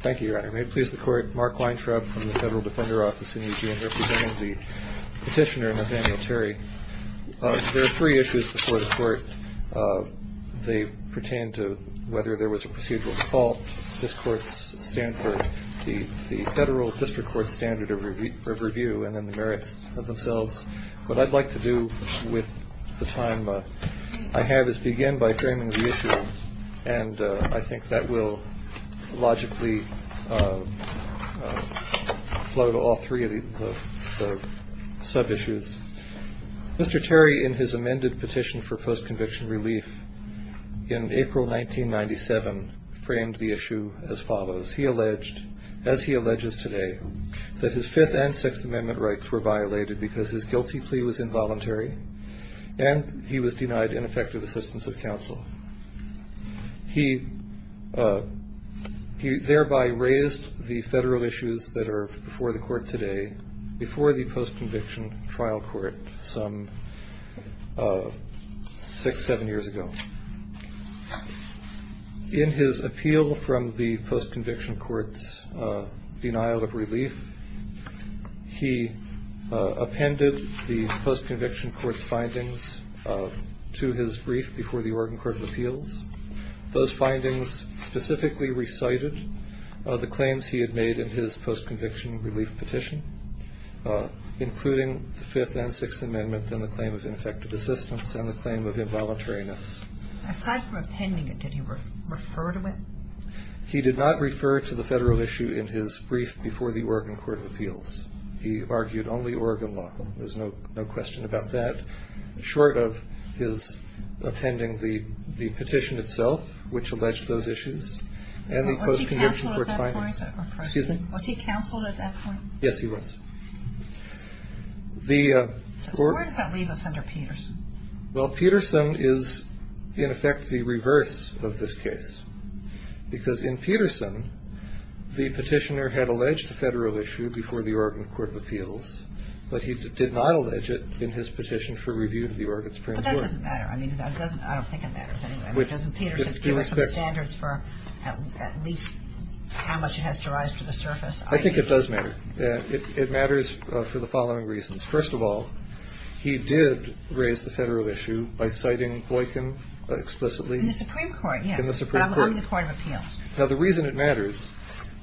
Thank you, Your Honor. May it please the Court, Mark Weintraub from the Federal Defender Office in Eugene, representing the Petitioner Nathaniel Terry. There are three issues before the Court. They pertain to whether there was a procedural default. This Court's stand for the Federal District Court's standard of review and then the merits of themselves. What I'd like to do with the time I have is begin by framing the issue, and I think that will logically float all three of the sub-issues. Mr. Terry, in his amended petition for post-conviction relief in April 1997, framed the issue as follows. He alleged, as he alleges today, that his Fifth and Sixth Amendment rights were violated because his guilty plea was involuntary, and he was denied ineffective assistance of counsel. He thereby raised the federal issues that are before the Court today before the post-conviction trial court some six, seven years ago. In his appeal from the post-conviction court's denial of relief, he appended the post-conviction court's findings to his brief before the Oregon Court of Appeals. Those findings specifically recited the claims he had made in his post-conviction relief petition, including the Fifth and Sixth Amendment and the claim of ineffective assistance and the claim of involuntariness. Aside from appending it, did he refer to it? He did not refer to the federal issue in his brief before the Oregon Court of Appeals. He argued only Oregon law. There's no question about that, short of his appending the petition itself, which alleged those issues, and the post-conviction court findings. Was he counseled at that point? Yes, he was. So where does that leave us under Peterson? Well, Peterson is, in effect, the reverse of this case. Because in Peterson, the petitioner had alleged a federal issue before the Oregon Court of Appeals, but he did not allege it in his petition for review to the Oregon Supreme Court. But that doesn't matter. I don't think it matters anyway. Doesn't Peterson give us some standards for at least how much it has to rise to the surface? I think it does matter. It matters for the following reasons. First of all, he did raise the federal issue by citing Boykin explicitly. In the Supreme Court, yes. In the Supreme Court. Under the Court of Appeals. Now, the reason it matters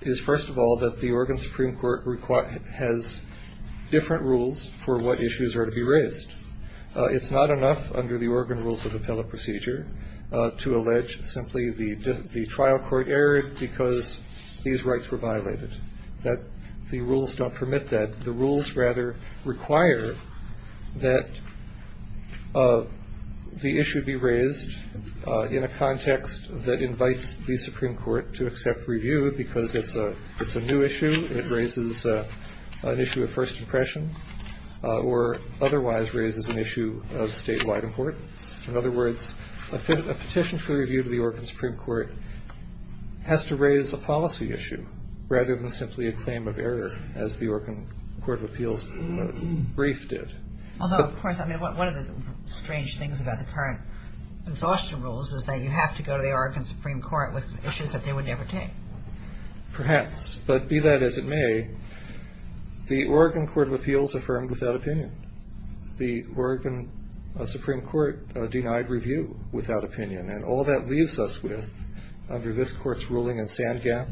is, first of all, that the Oregon Supreme Court has different rules for what issues are to be raised. It's not enough under the Oregon Rules of Appellate Procedure to allege simply the trial court error because these rights were violated. The rules don't permit that. The rules, rather, require that the issue be raised in a context that invites the Supreme Court to accept review because it's a new issue. It raises an issue of first impression or otherwise raises an issue of statewide importance. In other words, a petition for review to the Oregon Supreme Court has to raise a policy issue rather than simply a claim of error, as the Oregon Court of Appeals brief did. Although, of course, one of the strange things about the current exhaustion rules is that you have to go to the Oregon Supreme Court with issues that they would never take. Perhaps. But be that as it may, the Oregon Court of Appeals affirmed without opinion. The Oregon Supreme Court denied review without opinion. And all that leaves us with, under this court's ruling in Sandgap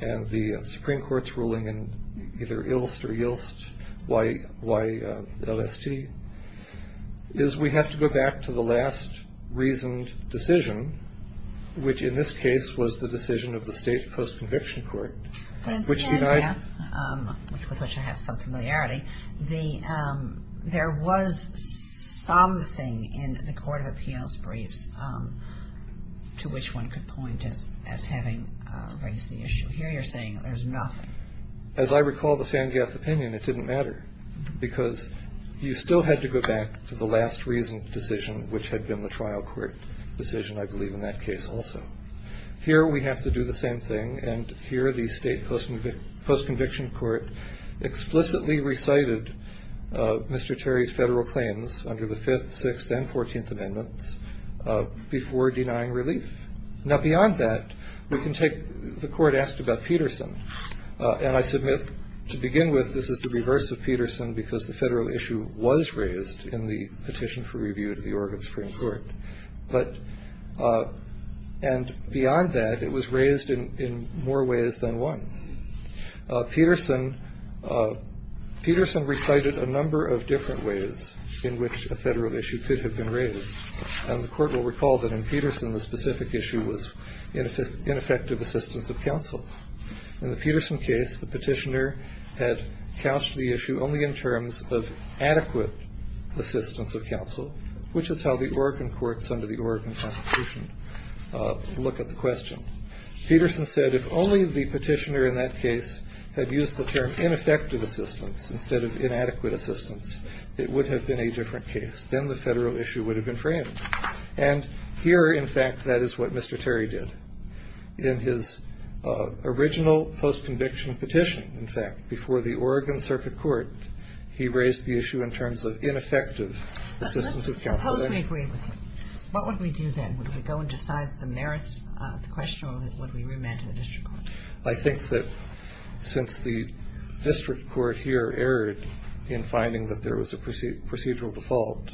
and the Supreme Court's ruling in either Ilst or Ylst, YLST, is we have to go back to the last reasoned decision, which, in this case, was the decision of the state post-conviction court, which denied... But in Sandgap, with which I have some familiarity, there was something in the Court of Appeals briefs to which one could point as having raised the issue. Here you're saying there's nothing. As I recall the Sandgap opinion, it didn't matter. Because you still had to go back to the last reasoned decision, which had been the trial court decision, I believe, in that case also. Here we have to do the same thing. And here the state post-conviction court explicitly recited Mr. Terry's federal claims under the Fifth, Sixth, and Fourteenth Amendments before denying relief. Now, beyond that, we can take... The court asked about Peterson. And I submit, to begin with, this is the reverse of Peterson, because the federal issue was raised in the petition for review to the Oregon Supreme Court. But... And beyond that, it was raised in more ways than one. Peterson recited a number of different ways in which a federal issue could have been raised. And the Court will recall that in Peterson, the specific issue was ineffective assistance of counsel. In the Peterson case, the petitioner had couched the issue only in terms of adequate assistance of counsel, which is how the Oregon courts under the Oregon Constitution look at the question. Peterson said if only the petitioner in that case had used the term ineffective assistance instead of inadequate assistance, it would have been a different case. Then the federal issue would have been framed. And here, in fact, that is what Mr. Terry did. In his original post-conviction petition, in fact, before the Oregon Circuit Court, he raised the issue in terms of ineffective assistance of counsel. Suppose we agree with him. What would we do then? Would we go and decide the merits of the question, or would we remand to the district court? I think that since the district court here erred in finding that there was a procedural default,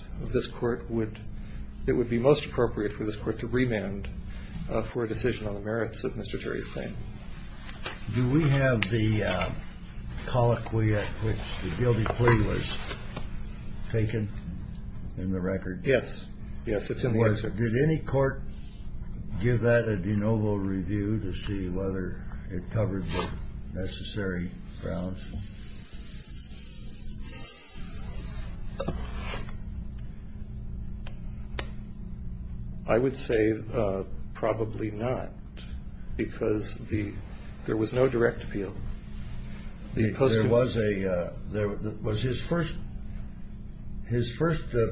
it would be most appropriate for this court to remand for a decision on the merits of Mr. Terry's claim. Do we have the colloquy at which the guilty plea was taken in the record? Yes. Yes, it's in the answer. Did any court give that a de novo review to see whether it covered the necessary grounds? I would say probably not, because there was no direct appeal. His first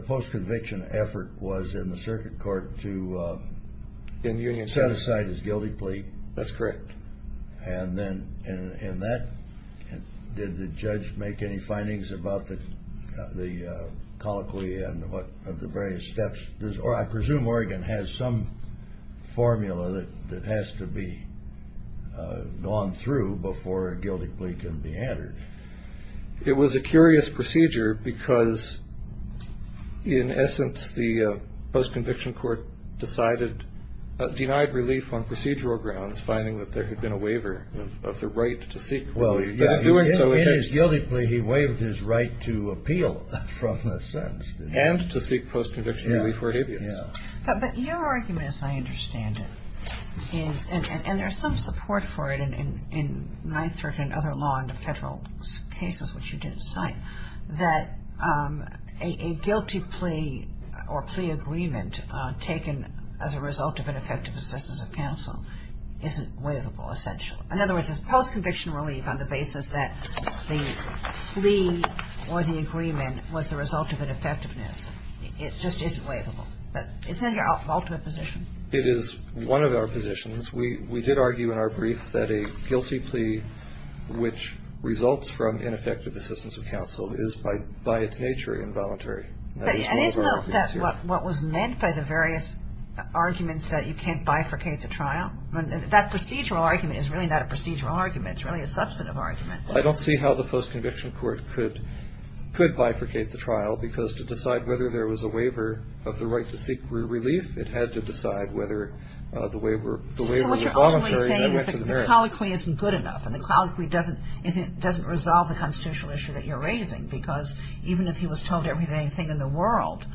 post-conviction effort was in the circuit court to set aside his guilty plea. That's correct. Did the judge make any findings about the colloquy and the various steps? I presume Oregon has some formula that has to be gone through before a guilty plea can be entered. It was a curious procedure because, in essence, the post-conviction court denied relief on procedural grounds, finding that there had been a waiver of the right to seek a guilty plea. In his guilty plea, he waived his right to appeal from the sentence. And to seek post-conviction relief for habeas. Yes. But your argument, as I understand it, is, and there's some support for it in 9th Circuit and other law under Federal cases which you didn't cite, that a guilty plea or plea agreement taken as a result of ineffective assistance of counsel isn't waivable, essentially. In other words, is post-conviction relief on the basis that the plea or the agreement was the result of ineffectiveness, it just isn't waivable. Isn't that your ultimate position? It is one of our positions. We did argue in our brief that a guilty plea which results from ineffective assistance of counsel is by its nature involuntary. And isn't that what was meant by the various arguments that you can't bifurcate the trial? That procedural argument is really not a procedural argument. It's really a substantive argument. I don't see how the post-conviction court could bifurcate the trial because to decide whether there was a waiver of the right to seek relief, it had to decide whether the waiver was involuntary. So what you're only saying is the colloquy isn't good enough and the colloquy doesn't resolve the constitutional issue that you're raising because even if he was told everything in the world,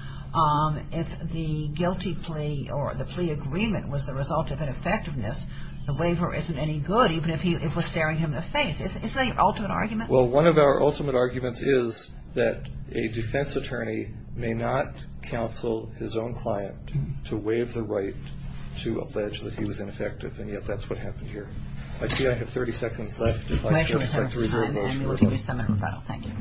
if the guilty plea or the plea agreement was the result of ineffectiveness, the waiver isn't any good even if we're staring him in the face. Isn't that your ultimate argument? Well, one of our ultimate arguments is that a defense attorney may not counsel his own client to waive the right to allege that he was ineffective, and yet that's what happened here. I see I have 30 seconds left. I'll give you some more time and then we'll give you some more rebuttal. Thank you.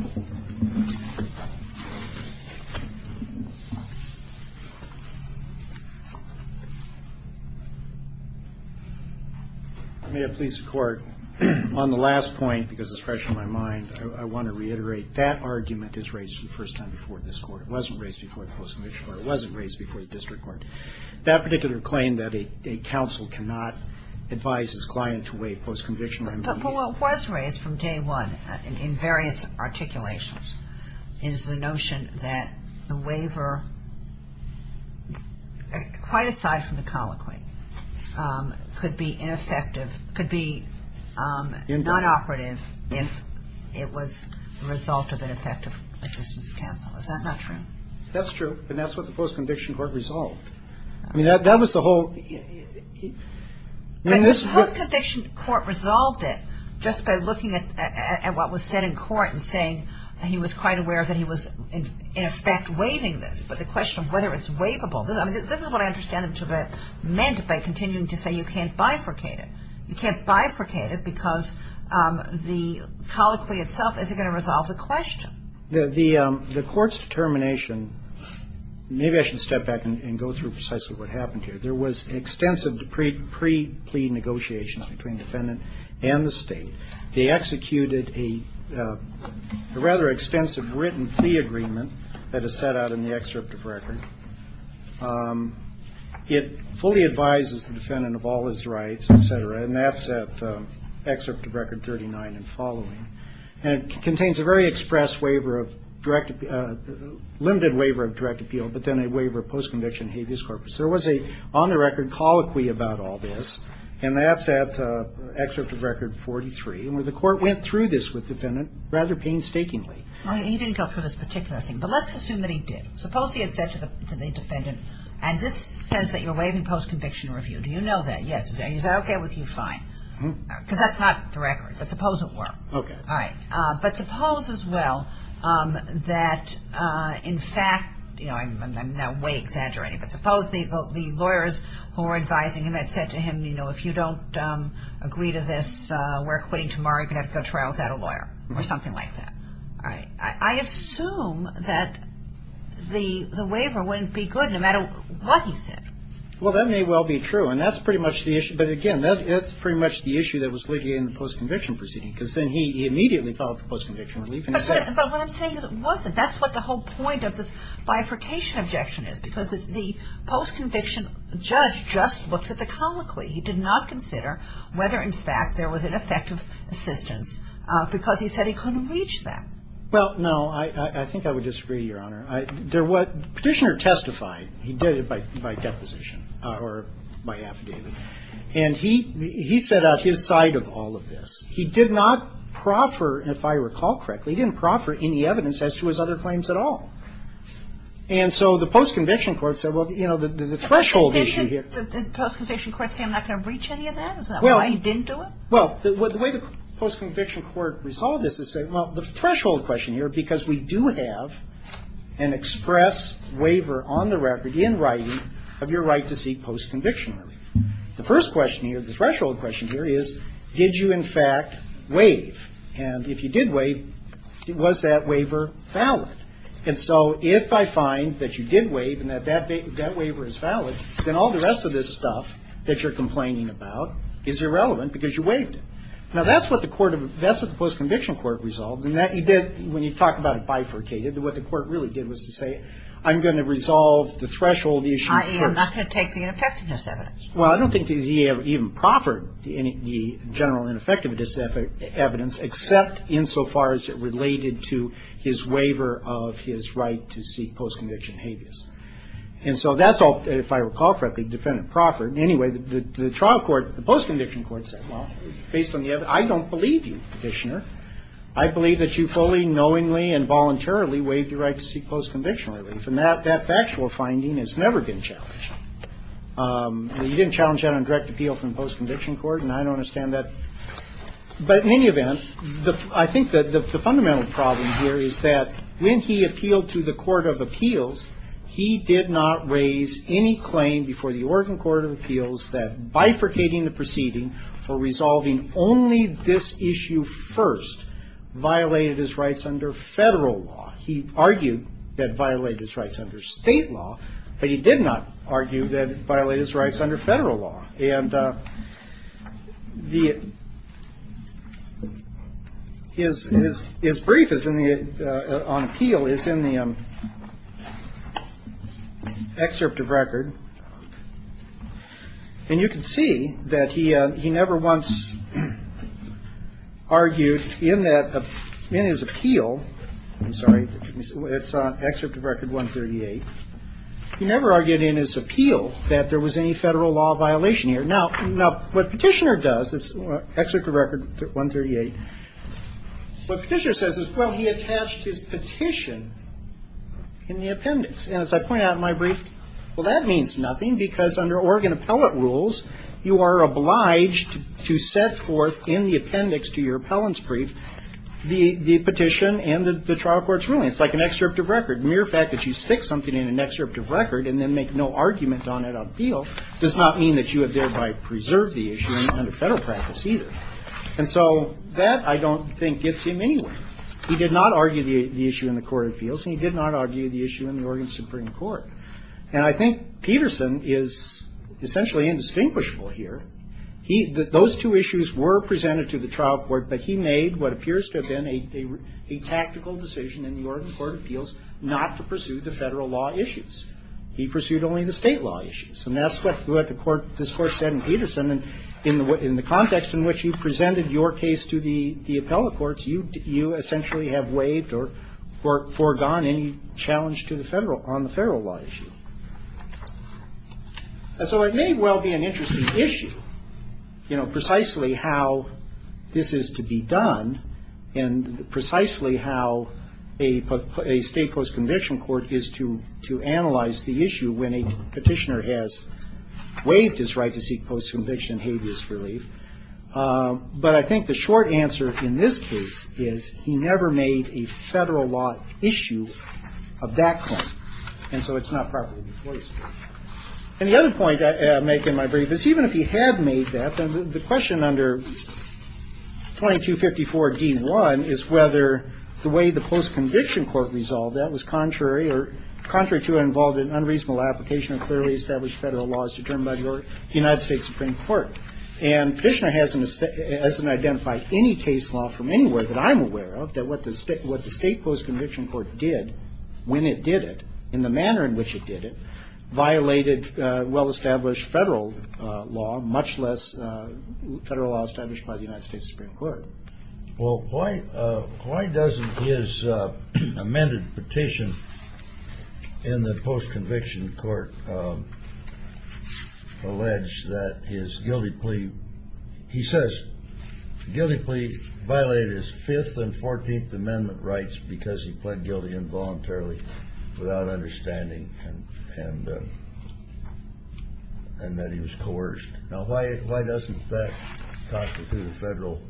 I may have pleased the Court. On the last point, because it's fresh in my mind, I want to reiterate that argument is raised for the first time before this Court. It wasn't raised before the post-conviction court. It wasn't raised before the district court. That particular claim that a counsel cannot advise his client to waive post-conviction. Well, it was raised from day one in various articulations. The notion that the waiver, quite aside from the colloquy, could be ineffective, could be nonoperative if it was the result of ineffective assistance of counsel. Is that not true? That's true. And that's what the post-conviction court resolved. I mean, that was the whole. The post-conviction court resolved it just by looking at what was said in court and saying he was quite aware that he was, in effect, waiving this. But the question of whether it's waivable, this is what I understand it to have meant by continuing to say you can't bifurcate it. You can't bifurcate it because the colloquy itself isn't going to resolve the question. The Court's determination, maybe I should step back and go through precisely what happened here. There was extensive pre-plea negotiations between defendant and the State. They executed a rather extensive written plea agreement that is set out in the excerpt of record. It fully advises the defendant of all his rights, et cetera. And that's at excerpt of record 39 and following. And it contains a very express waiver of direct, limited waiver of direct appeal, but then a waiver of post-conviction habeas corpus. There was a, on the record, colloquy about all this. And that's at excerpt of record 43. And the Court went through this with the defendant rather painstakingly. He didn't go through this particular thing. But let's assume that he did. Suppose he had said to the defendant, and this says that you're waiving post-conviction review. Do you know that? Yes. Is that okay with you? Fine. Because that's not the record. But suppose it were. Okay. All right. But suppose as well that in fact, you know, I'm now way exaggerating, but suppose the lawyers who are advising him had said to him, you know, if you don't agree to this, we're quitting tomorrow. You're going to have to go to trial without a lawyer or something like that. All right. I assume that the waiver wouldn't be good no matter what he said. Well, that may well be true. And that's pretty much the issue. But, again, that's pretty much the issue that was legated in the post-conviction proceeding because then he immediately fell for post-conviction relief. But what I'm saying is it wasn't. That's what the whole point of this bifurcation objection is because the post-conviction judge just looked at the colloquy. He did not consider whether in fact there was an effective assistance because he said he couldn't reach that. Well, no. I think I would disagree, Your Honor. Petitioner testified. He did it by deposition or by affidavit. And he set out his side of all of this. He did not proffer, if I recall correctly, he didn't proffer any evidence as to his other claims at all. And so the post-conviction court said, well, you know, the threshold issue here Did the post-conviction court say I'm not going to reach any of that? Is that why he didn't do it? Well, the way the post-conviction court resolved this is say, well, the threshold question here, because we do have an express waiver on the record in writing of your right to seek post-conviction relief. The first question here, the threshold question here, is did you in fact waive? And if you did waive, was that waiver valid? And so if I find that you did waive and that that waiver is valid, then all the rest of this stuff that you're complaining about is irrelevant because you waived it. Now, that's what the court of the post-conviction court resolved, and that you did when you talk about it bifurcated. What the court really did was to say I'm going to resolve the threshold issue first. I'm not going to take the ineffectiveness evidence. Well, I don't think the DA even proffered the general ineffectiveness evidence except insofar as it related to his waiver of his right to seek post-conviction habeas. And so that's all, if I recall correctly, defendant proffered. Anyway, the trial court, the post-conviction court said, well, based on the evidence I don't believe you, Petitioner. I believe that you fully, knowingly, and voluntarily waived your right to seek post-conviction relief. And that factual finding has never been challenged. You didn't challenge that on direct appeal from post-conviction court, and I don't understand that. But in any event, I think that the fundamental problem here is that when he appealed to the court of appeals, he did not raise any claim before the Oregon court of appeals that bifurcating the proceeding for resolving only this issue first violated his rights under Federal law. He argued that it violated his rights under State law, but he did not argue that it violated his rights under Federal law. And his brief on appeal is in the excerpt of record, and you can see that he never once argued in that, in his appeal, I'm sorry, it's on excerpt of record 138, he never argued in his appeal that there was any Federal law violation here. Now, what Petitioner does, it's excerpt of record 138, what Petitioner says is, well, he attached his petition in the appendix. And as I point out in my brief, well, that means nothing because under Oregon to set forth in the appendix to your appellant's brief the petition and the trial court's ruling. It's like an excerpt of record. Mere fact that you stick something in an excerpt of record and then make no argument on it on appeal does not mean that you have thereby preserved the issue under Federal practice either. And so that, I don't think, gets him anywhere. He did not argue the issue in the court of appeals, and he did not argue the issue in the Oregon Supreme Court. And I think Peterson is essentially indistinguishable here. Those two issues were presented to the trial court, but he made what appears to have been a tactical decision in the Oregon court of appeals not to pursue the Federal law issues. He pursued only the State law issues. And that's what the Court, this Court said in Peterson, in the context in which you presented your case to the appellate courts, you essentially have waived or foregone any challenge to the Federal, on the Federal law issue. And so it may well be an interesting issue, you know, precisely how this is to be done and precisely how a State post-conviction court is to analyze the issue when a petitioner has waived his right to seek post-conviction habeas relief. But I think the short answer in this case is he never made a Federal law issue of that claim. And so it's not properly before you. And the other point I make in my brief is even if he had made that, then the question under 2254 D1 is whether the way the post-conviction court resolved that was contrary or contrary to and involved in unreasonable application of clearly established Federal laws determined by the United States Supreme Court. And Petitioner hasn't identified any case law from anywhere that I'm aware of that what the State post-conviction court did when it did it, in the manner in which it did it, violated well-established Federal law, much less Federal law established by the United States Supreme Court. Well, why doesn't his amended petition in the post-conviction court allege that his amendment rights because he pled guilty involuntarily without understanding and that he was coerced? Now, why doesn't that constitute a Federal?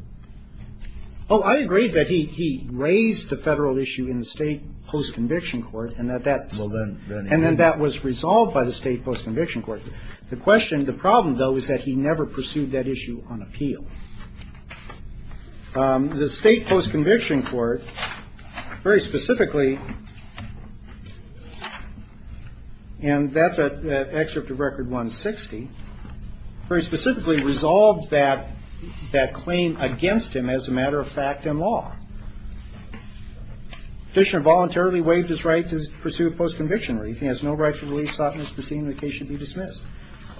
Oh, I agree that he raised the Federal issue in the State post-conviction court and that that's And then that was resolved by the State post-conviction court. The question, the problem, though, is that he never pursued that issue on appeal. The State post-conviction court, very specifically, and that's an excerpt of Record 160, very specifically resolved that claim against him as a matter of fact and law. Petitioner voluntarily waived his right to pursue a post-conviction relief. He has no right to relief sought in this proceeding. The case should be dismissed.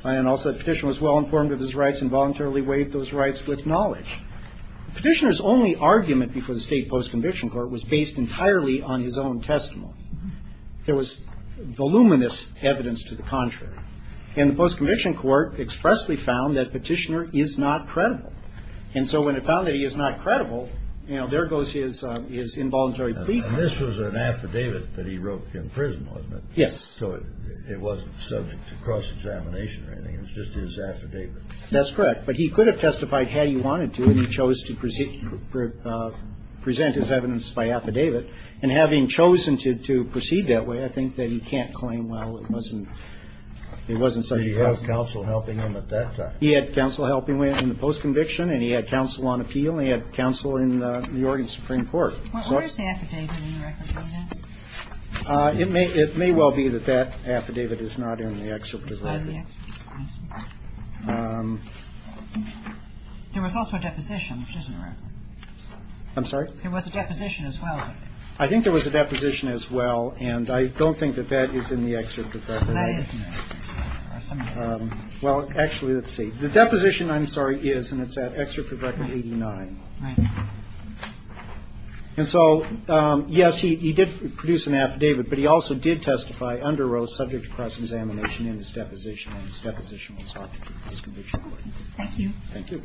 And also the petitioner was well informed of his rights and voluntarily waived those rights with knowledge. Petitioner's only argument before the State post-conviction court was based entirely on his own testimony. There was voluminous evidence to the contrary. And the post-conviction court expressly found that Petitioner is not credible. And so when it found that he is not credible, you know, there goes his involuntary plea. And this was an affidavit that he wrote in prison, wasn't it? So it wasn't subject to cross-examination or anything. It was just his affidavit. That's correct. But he could have testified had he wanted to, and he chose to present his evidence by affidavit. And having chosen to proceed that way, I think that he can't claim, well, it wasn't such a problem. He had counsel helping him at that time. He had counsel helping him in the post-conviction, and he had counsel on appeal, and he had counsel in the Oregon Supreme Court. Where is the affidavit in Record 160? It may well be that that affidavit is not in the excerpt of record. There was also a deposition, which isn't a record. I'm sorry? There was a deposition as well. I think there was a deposition as well, and I don't think that that is in the excerpt of record. That is not. Well, actually, let's see. The deposition, I'm sorry, is, and it's at excerpt of record 89. Right. And so, yes, he did produce an affidavit, but he also did testify under oath subject to cross-examination in his deposition, and his deposition was sought to prove post-conviction. Thank you. Thank you.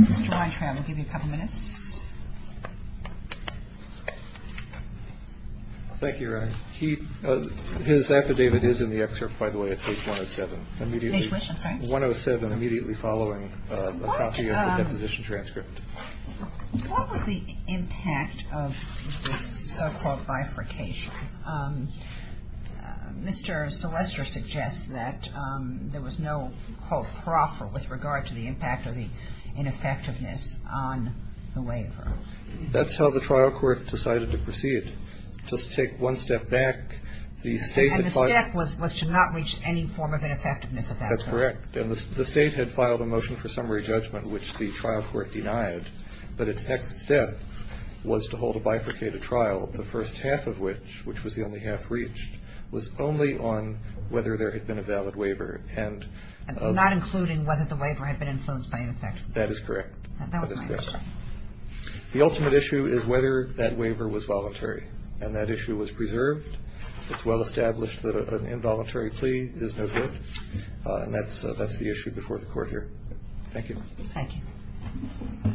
Mr. Weintraub, I'll give you a couple minutes. Thank you, Ron. His affidavit is in the excerpt, by the way, at page 107. Page what? I'm sorry? 107, immediately following a copy of the deposition transcript. What was the impact of this so-called bifurcation? Mr. Selester suggests that there was no, quote, proffer with regard to the impact of the ineffectiveness on the waiver. That's how the trial court decided to proceed. Just take one step back. And the step was to not reach any form of ineffectiveness at that point. That's correct. And the State had filed a motion for summary judgment, which the trial court denied. But its next step was to hold a bifurcated trial, the first half of which, which was the only half reached, was only on whether there had been a valid waiver. Not including whether the waiver had been influenced by ineffectiveness. That is correct. That was my understanding. The ultimate issue is whether that waiver was voluntary. And that issue was preserved. It's well established that an involuntary plea is no good. And that's the issue before the court here. Thank you. Thank you.